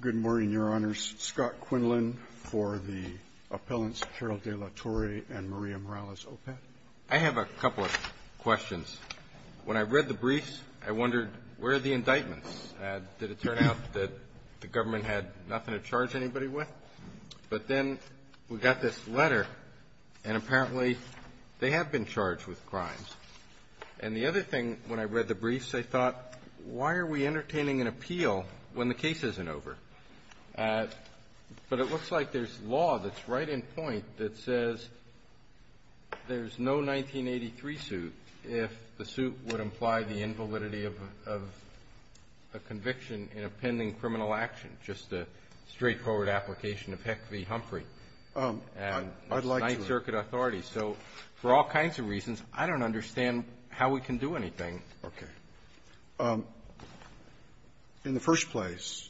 Good morning, Your Honors. Scott Quinlan for the appellants Carol Dela Torre and Maria Morales-Opeth. I have a couple of questions. When I read the briefs, I wondered, where are the indictments? Did it turn out that the government had nothing to charge anybody with? But then we got this letter, and apparently they have been charged with crimes. And the other thing, when I read the briefs, I thought, why are we entertaining an appeal when the case isn't over? But it looks like there's law that's right in point that says there's no 1983 suit if the suit would imply the invalidity of a conviction in a pending criminal action, just a straightforward application of Heck v. Humphrey. I'd like to. So for all kinds of reasons, I don't understand how we can do anything. Okay. In the first place,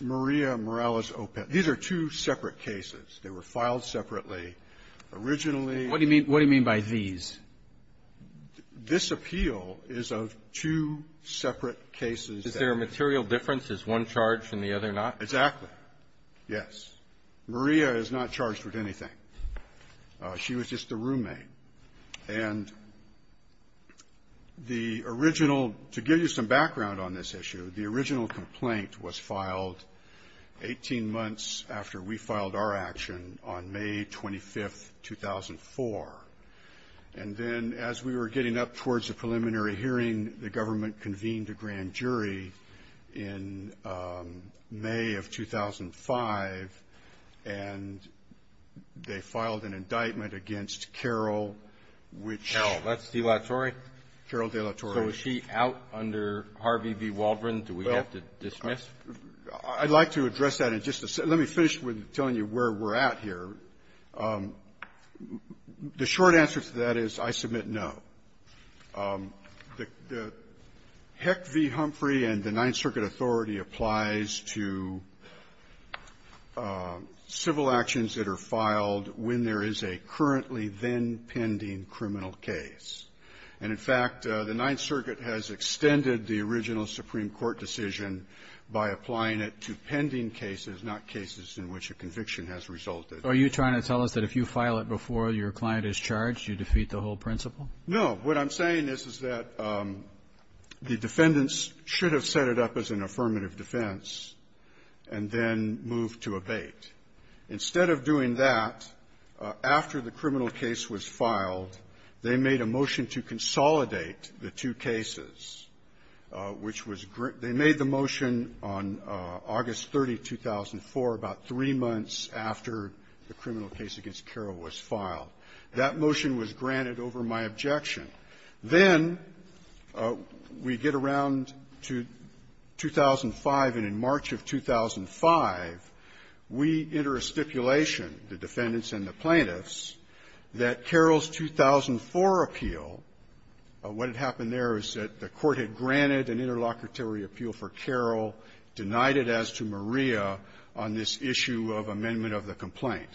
Maria Morales-Opeth. These are two separate cases. They were filed separately. Originally the ---- What do you mean by these? This appeal is of two separate cases. Is there a material difference? Is one charged and the other not? Exactly. Yes. Maria is not charged with anything. She was just a roommate. And the original ---- to give you some background on this issue, the original complaint was filed 18 months after we filed our action on May 25th, 2004. And then as we were getting up towards the preliminary hearing, the government convened a grand jury in May of 2005, and they filed an indictment against Carol, which ---- Carol. That's De La Torre? Carol De La Torre. So is she out under Harvey v. Waldron? Do we have to dismiss? I'd like to address that in just a second. Let me finish with telling you where we're at here. The short answer to that is I submit no. The Heck v. Humphrey and the Ninth Circuit authority applies to civil actions that are filed when there is a currently then-pending criminal case. And in fact, the Ninth Circuit has extended the original Supreme Court decision by applying it to pending cases, not cases in which a conviction has resulted. Are you trying to tell us that if you file it before your client is charged, you defeat the whole principle? No. What I'm saying is, is that the defendants should have set it up as an affirmative defense and then moved to abate. Instead of doing that, after the criminal case was filed, they made a motion to consolidate the two cases, which was ---- they made the motion on August 30, 2004, about three months after the criminal case against me was filed. That motion was granted over my objection. Then we get around to 2005, and in March of 2005, we enter a stipulation, the defendants and the plaintiffs, that Carroll's 2004 appeal, what had happened there is that the Court had granted an interlocutory appeal for Carroll, denied it as to Maria on this issue of amendment of the complaint.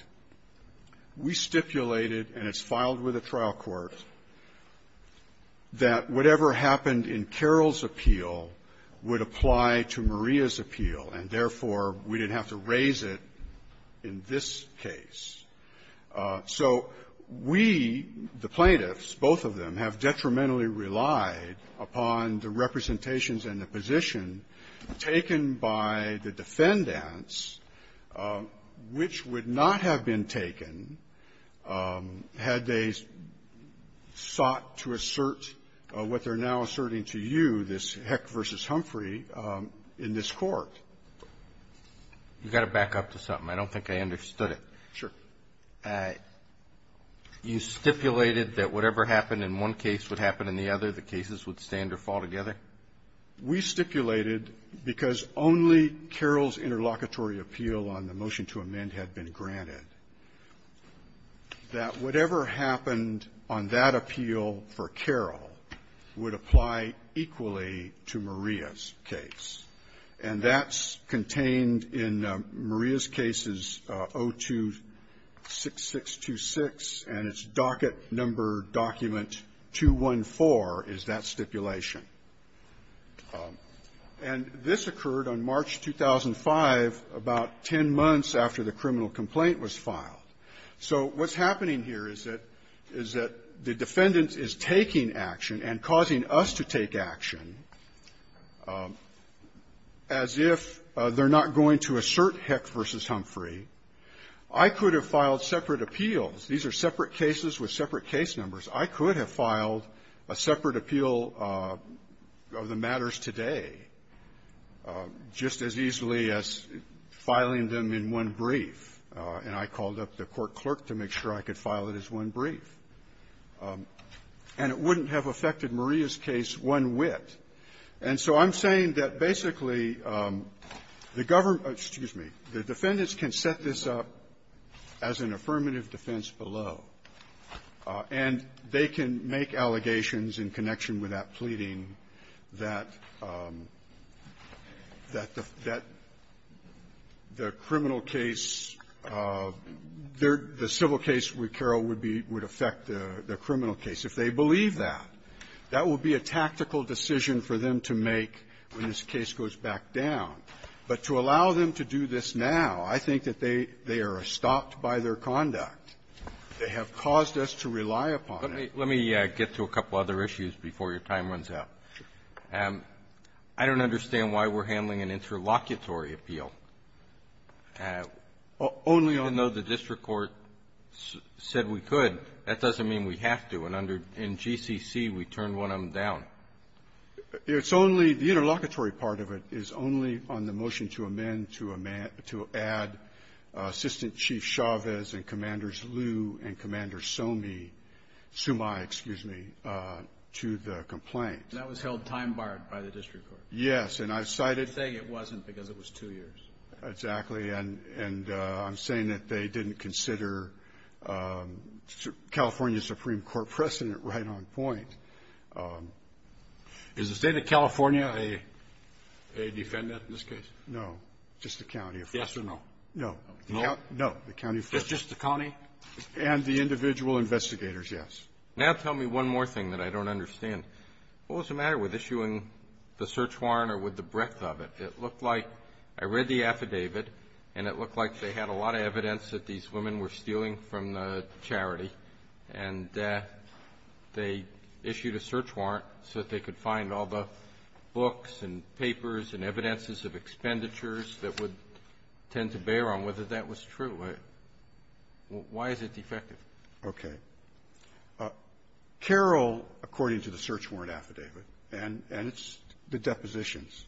We stipulated, and it's filed with the trial court, that whatever happened in Carroll's appeal would apply to Maria's appeal, and therefore, we didn't have to raise it in this case. So we, the plaintiffs, both of them, have detrimentally relied upon the representations and the position taken by the defendants, which would not have been taken had they sought to assert what they're now asserting to you, this Heck v. Humphrey, in this Court. You've got to back up to something. I don't think I understood it. Sure. You stipulated that whatever happened in one case would happen in the other. The cases would stand or fall together? We stipulated, because only Carroll's interlocutory appeal on the motion to amend had been granted, that whatever happened on that appeal for Carroll would apply equally to Maria's case, and that's contained in Maria's case's 026626, and its docket number document 214 is that stipulation. And this occurred on March 2005, about ten months after the criminal complaint was filed. So what's happening here is that the defendant is taking action and causing us to take action as if they're not going to assert Heck v. Humphrey. I could have filed separate appeals. These are separate cases with separate case numbers. I could have filed a separate appeal of the matters today just as easily as filing them in one brief, and I called up the court clerk to make sure I could file it as one brief. And it wouldn't have affected Maria's case one whit. And so I'm saying that, basically, the government -- excuse me. The defendants can set this up as an affirmative defense below, and they can make allegations in connection with that pleading that the criminal case, the civil case with Carroll would affect the criminal case. If they believe that, that will be a tactical decision for them to make when this case goes back down. But to allow them to do this now, I think that they are stopped by their conduct. They have caused us to rely upon it. Let me get to a couple other issues before your time runs out. I don't understand why we're handling an interlocutory appeal. Only on the district court said we could. That doesn't mean we have to. And under GCC, we turn one of them down. It's only the interlocutory part of it is only on the motion to amend to add Assistant Chief Chavez and Commanders Liu and Commander Sumai, excuse me, to the complaint. That was held time-barred by the district court. Yes. And I cited -- You're saying it wasn't because it was two years. Exactly. And I'm saying that they didn't consider California Supreme Court precedent right on point. Is the State of California a defendant in this case? No. Just the county. Yes or no? No. No? No. The county first. Just the county? And the individual investigators, yes. Now tell me one more thing that I don't understand. What was the matter with issuing the search warrant or with the breadth of it? It looked like I read the affidavit, and it looked like they had a lot of evidence that these women were stealing from the charity, and they issued a search warrant so that they could find all the books and papers and evidences of expenditures that would tend to bear on whether that was true. Why is it defective? Okay. Carroll, according to the search warrant affidavit, and it's the depositions,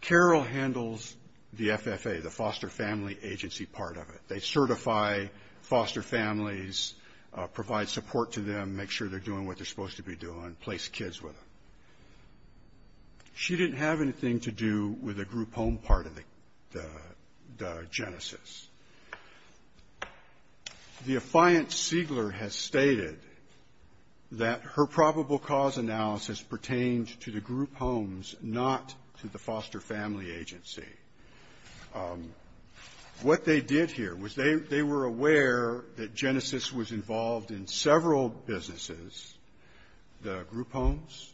Carroll handles the FFA, the Foster Family Agency part of it. They certify foster families, provide support to them, make sure they're doing what they're supposed to be doing, place kids with them. She didn't have anything to do with the group home part of the genesis. The affiant Seigler has stated that her probable cause analysis pertained to the group homes, not to the Foster Family Agency. What they did here was they were aware that genesis was involved in several businesses, the group homes,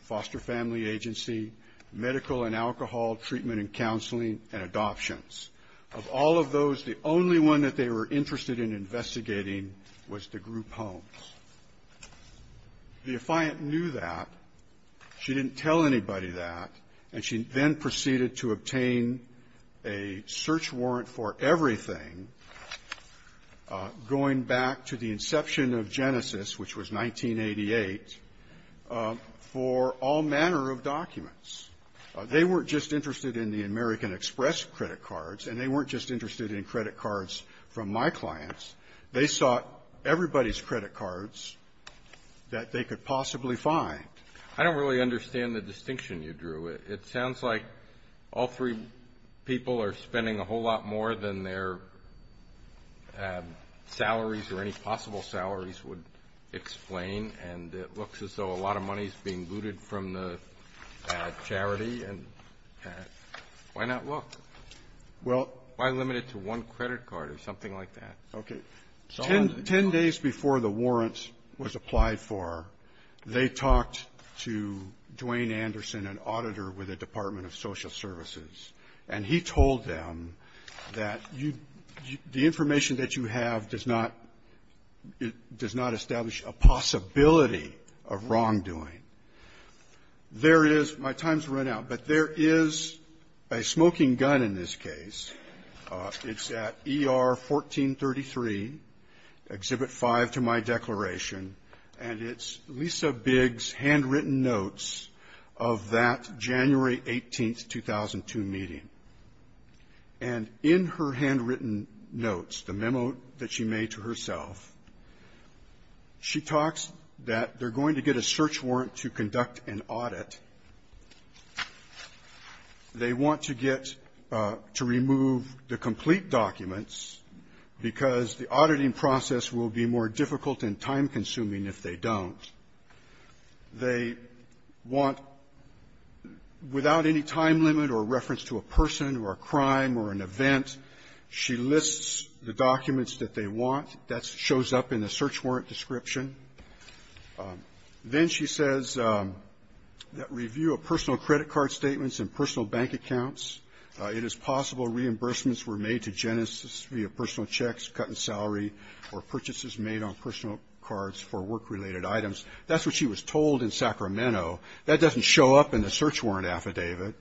foster family agency, medical and alcohol treatment and counseling, and adoptions. Of all of those, the only one that they were interested in investigating was the group homes. The affiant knew that. She didn't tell anybody that. And she then proceeded to obtain a search warrant for everything, going back to the inception of genesis, which was 1988, for all manner of documents. They weren't just interested in the American Express credit cards, and they weren't just interested in credit cards from my clients. They sought everybody's credit cards that they could possibly find. I don't really understand the distinction you drew. It sounds like all three people are spending a whole lot more than their salaries, or any possible salaries would explain. And it looks as though a lot of money is being looted from the charity. And why not look? Well. Why limit it to one credit card or something like that? Okay. Ten days before the warrant was applied for, they talked to Dwayne Anderson, an auditor with the Department of Social Services, and he told them that you the information that you have does not establish a possibility of wrongdoing. There it is. My time's run out. But there is a smoking gun in this case. It's at ER 1433, Exhibit 5 to my declaration, and it's Lisa Biggs' handwritten notes of that January 18, 2002, meeting. And in her handwritten notes, the memo that she made to herself, she talks that they're going to get a search warrant to conduct an audit. They want to get to remove the complete documents because the auditing process will be more difficult and time-consuming if they don't. They want, without any time limit or reference to a person or a crime or an event, she lists the documents that they want. That shows up in the search warrant description. Then she says that review of personal credit card statements and personal bank accounts. It is possible reimbursements were made to genesis via personal checks, cut in salary, or purchases made on personal cards for work-related items. That's what she was told in Sacramento. That doesn't show up in the search warrant affidavit.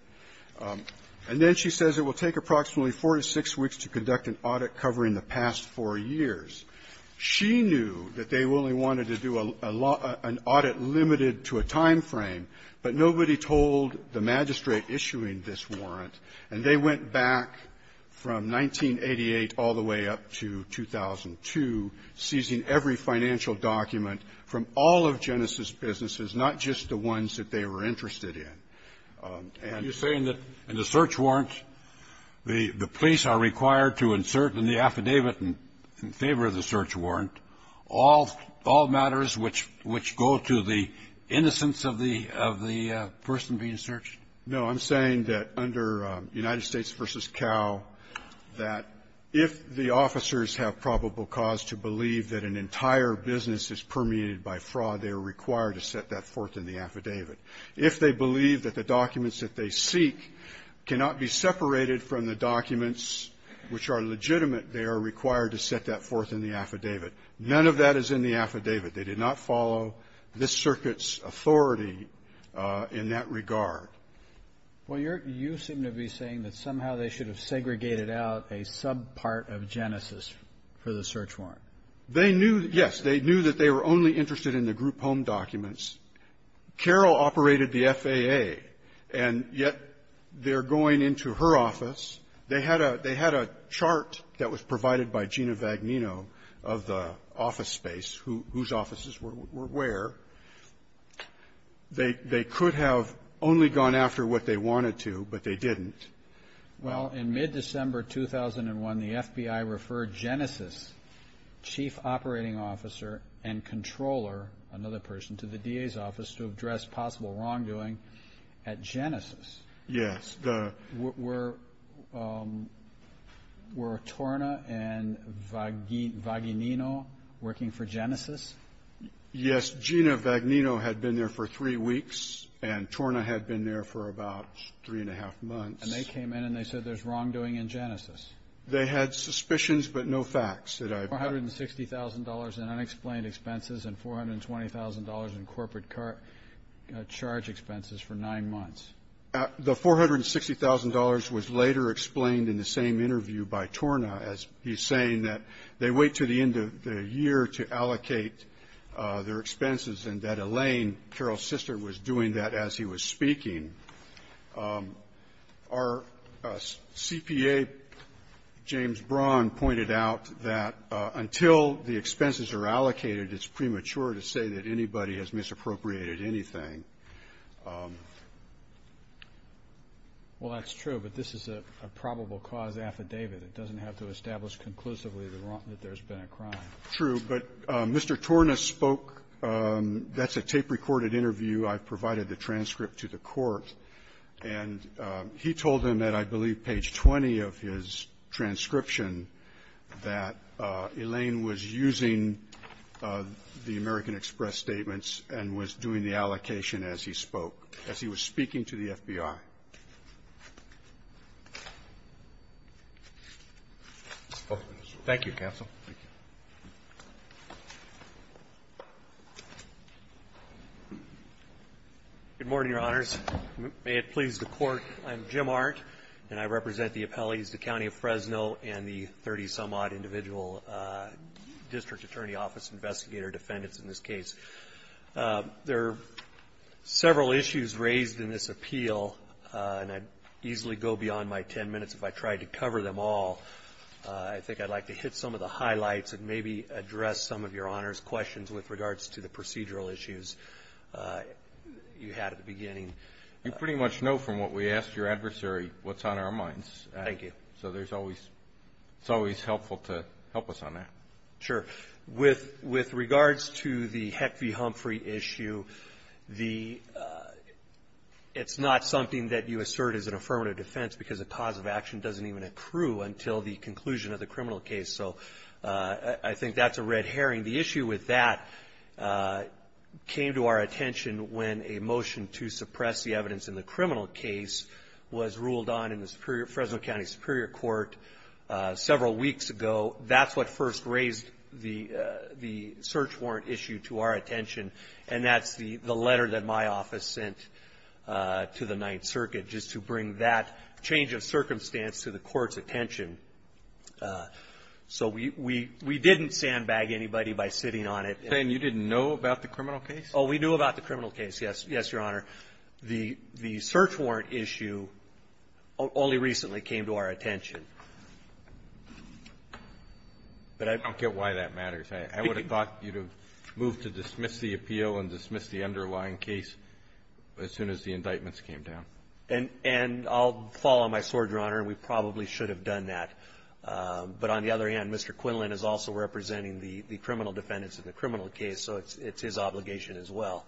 And then she says it will take approximately four to six weeks to conduct an audit covering the past four years. She knew that they only wanted to do a lot of an audit limited to a time frame, but nobody told the magistrate issuing this warrant. And they went back from 1988 all the way up to 2002, seizing every financial document from all of genesis' businesses, not just the ones that they were interested in. And the search warrant, the police are required to insert in the affidavit in favor of the search warrant all matters which go to the innocence of the person being searched? No. I'm saying that under United States v. Cal, that if the officers have probable cause to believe that an entire business is permeated by fraud, they are required to set that forth in the affidavit. If they believe that the documents that they seek cannot be separated from the documents which are legitimate, they are required to set that forth in the affidavit. None of that is in the affidavit. They did not follow this circuit's authority in that regard. Well, you're you seem to be saying that somehow they should have segregated out a subpart of genesis for the search warrant. They knew, yes. They knew that they were only interested in the group home documents. Carroll operated the FAA, and yet they're going into her office. They had a chart that was provided by Gina Vagnino of the office space whose offices were where. They could have only gone after what they wanted to, but they didn't. Well, in mid-December 2001, the FBI referred Genesis, chief operating officer and controller, another person, to the DA's office to address possible wrongdoing at Genesis. Yes. Were Torna and Vagnino working for Genesis? Yes. Gina Vagnino had been there for three weeks, and Torna had been there for about three and a half months. And they came in, and they said there's wrongdoing in Genesis. They had suspicions, but no facts. $460,000 in unexplained expenses and $420,000 in corporate charge expenses for nine months. The $460,000 was later explained in the same interview by Torna as he's saying that they wait to the end of the year to allocate their expenses and that Elaine, Carroll's sister, was doing that as he was speaking. Our CPA, James Braun, pointed out that until the expenses are allocated, it's premature to say that anybody has misappropriated anything. Well, that's true, but this is a probable cause affidavit. It doesn't have to establish conclusively that there's been a crime. True. But Mr. Torna spoke. That's a tape-recorded interview. I provided the transcript to the court. And he told them that I believe page 20 of his transcription that Elaine was using the American Express statements and was doing the allocation as he spoke, as he was speaking to the FBI. Thank you, counsel. Thank you. Good morning, Your Honors. May it please the Court, I'm Jim Arndt, and I represent the appellees, the County of Fresno, and the 30-some-odd individual district attorney office investigator defendants in this case. There are several issues raised in this appeal, and I'd easily go beyond my 10 minutes if I tried to cover them all. I think I'd like to hit some of the highlights and maybe address some of Your Honors' questions with regards to the procedural issues you had at the beginning. You pretty much know from what we asked your adversary what's on our minds. So it's always helpful to help us on that. Sure. With regards to the Heck v. Humphrey issue, it's not something that you assert as an affirmative defense because the cause of action doesn't even accrue until the conclusion of the criminal case. So I think that's a red herring. The issue with that came to our attention when a motion to suppress the evidence in the criminal case was ruled on in the Fresno County Superior Court several weeks ago. That's what first raised the search warrant issue to our attention, and that's the letter that my office sent to the Ninth Circuit just to bring that change of circumstance to the court's attention. So we didn't sandbag anybody by sitting on it. And you didn't know about the criminal case? Oh, we knew about the criminal case, yes, Your Honor. The search warrant issue only recently came to our attention. But I don't get why that matters. I would have thought you to move to dismiss the appeal and dismiss the underlying case as soon as the indictments came down. And I'll follow my sword, Your Honor. We probably should have done that. But on the other hand, Mr. Quinlan is also representing the criminal defendants in the criminal case, so it's his obligation as well.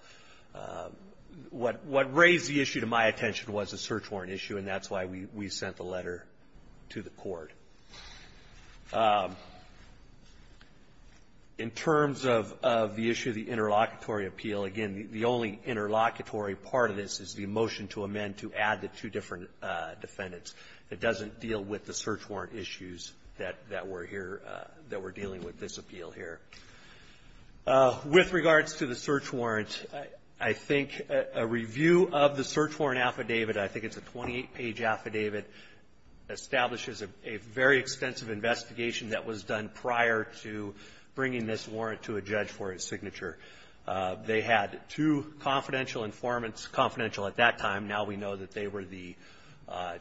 What raised the issue to my attention was the search warrant issue, and that's why we sent the letter to the court. In terms of the issue of the interlocutory appeal, again, the only interlocutory part of this is the motion to amend to add the two different defendants. It doesn't deal with the search warrant issues that we're here – that we're dealing with this appeal here. With regards to the search warrant, I think a review of the search warrant affidavit, I think it's a 28-page affidavit, establishes a very extensive investigation that was done prior to bringing this warrant to a judge for a signature. They had two confidential informants, confidential at that time. Now we know that they were the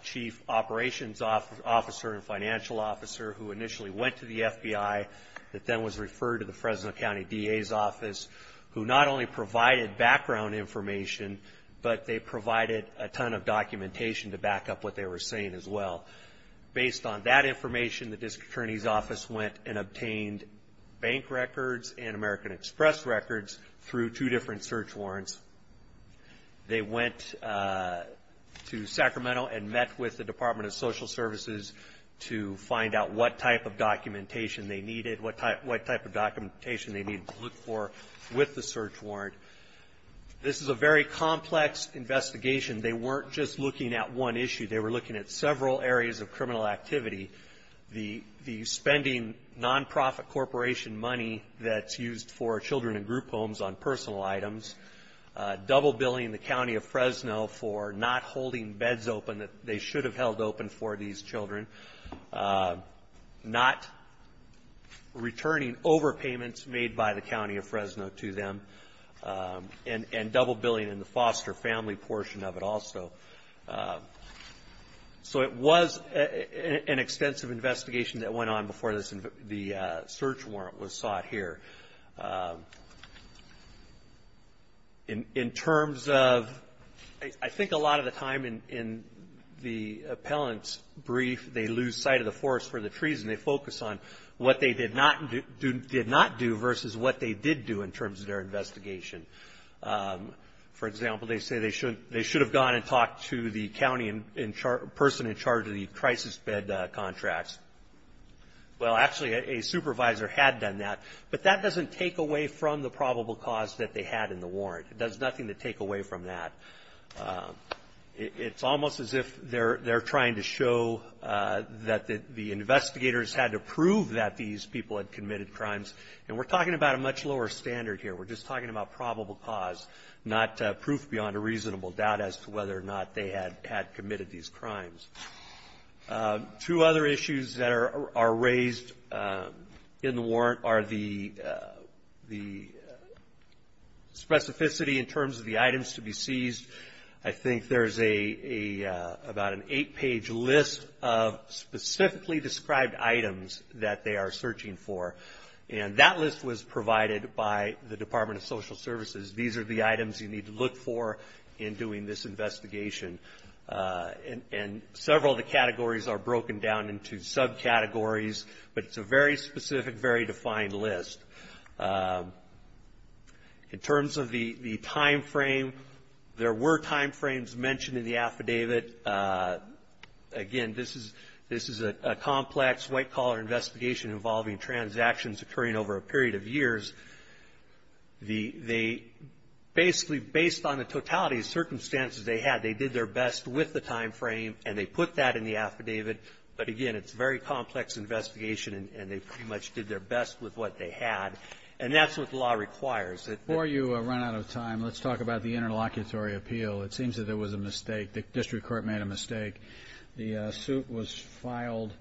chief operations officer and financial officer who initially went to the FBI that then was referred to the Fresno County DA's office, who not only provided background information, but they provided a ton of documentation to back up what they were saying as well. Based on that information, the district attorney's office went and obtained bank records and American Express records through two different search warrants. They went to Sacramento and met with the Department of Social Services to find out what type of documentation they needed, what type of documentation they needed to look for with the search warrant. This is a very complex investigation. They weren't just looking at one issue. They were looking at several areas of criminal activity, the spending nonprofit corporation money that's used for children in group homes on personal items, double billing the county of Fresno for not holding beds open that they should have held open for these children, not returning overpayments made by the county of Fresno to them, and double billing in the foster family portion of it also. So it was an extensive investigation that went on before the search warrant was sought here. In terms of I think a lot of the time in the appellant's brief, they lose sight of the forest for the trees and they focus on what they did not do versus what they did do in terms of their investigation. For example, they say they should have gone and talked to the person in charge of the crisis bed contracts. Well, actually, a supervisor had done that, but that doesn't take away from the probable cause that they had in the warrant. It does nothing to take away from that. It's almost as if they're trying to show that the investigators had to prove that these people had committed crimes. And we're talking about a much lower standard here. We're just talking about probable cause, not proof beyond a reasonable doubt as to whether or not they had committed these crimes. Two other issues that are raised in the warrant are the specificity in terms of the items to be seized. I think there's about an eight-page list of specifically described items that they are searching for. And that list was provided by the Department of Social Services. These are the items you need to look for in doing this investigation. And several of the categories are broken down into subcategories, but it's a very specific, very defined list. In terms of the timeframe, there were timeframes mentioned in the affidavit. Again, this is a complex white-collar investigation involving transactions occurring over a period of years. They basically, based on the totality of circumstances they had, they did their best with the timeframe, and they put that in the affidavit. But again, it's a very complex investigation, and they pretty much did their best with what they had. And that's what the law requires. Before you run out of time, let's talk about the interlocutory appeal. It seems that there was a mistake. The district court made a mistake. The suit was filed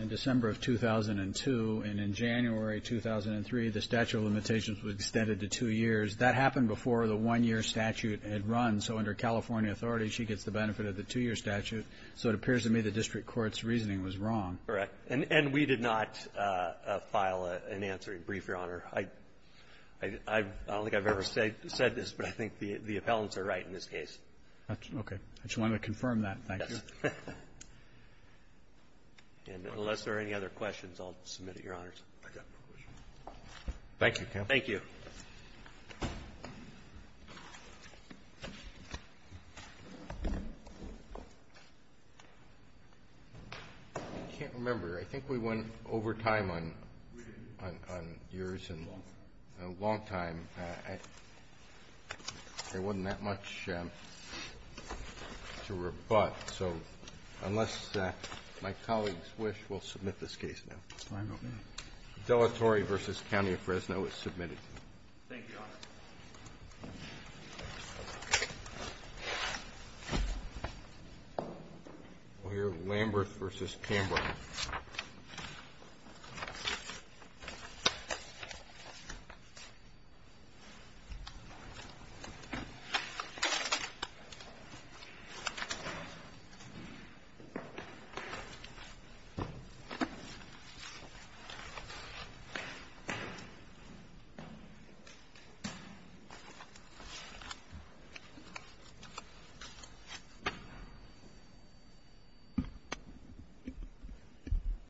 in December of 2002, and in January 2003, the statute of limitations was extended to two years. That happened before the one-year statute had run. So under California authority, she gets the benefit of the two-year statute. So it appears to me the district court's reasoning was wrong. Correct. And we did not file an answering brief, Your Honor. I don't think I've ever said this, but I think the appellants are right in this case. Okay. I just wanted to confirm that. Thank you. And unless there are any other questions, I'll submit it, Your Honors. Thank you, counsel. Thank you. I can't remember. I think we went over time on yours and a long time. There wasn't that much to rebut. So unless my colleagues wish, we'll submit this case now. Fine by me. Delatore v. County of Fresno is submitted. Thank you, Your Honor. We'll hear of Lamberth v. Canberra. Thank you. Thank you.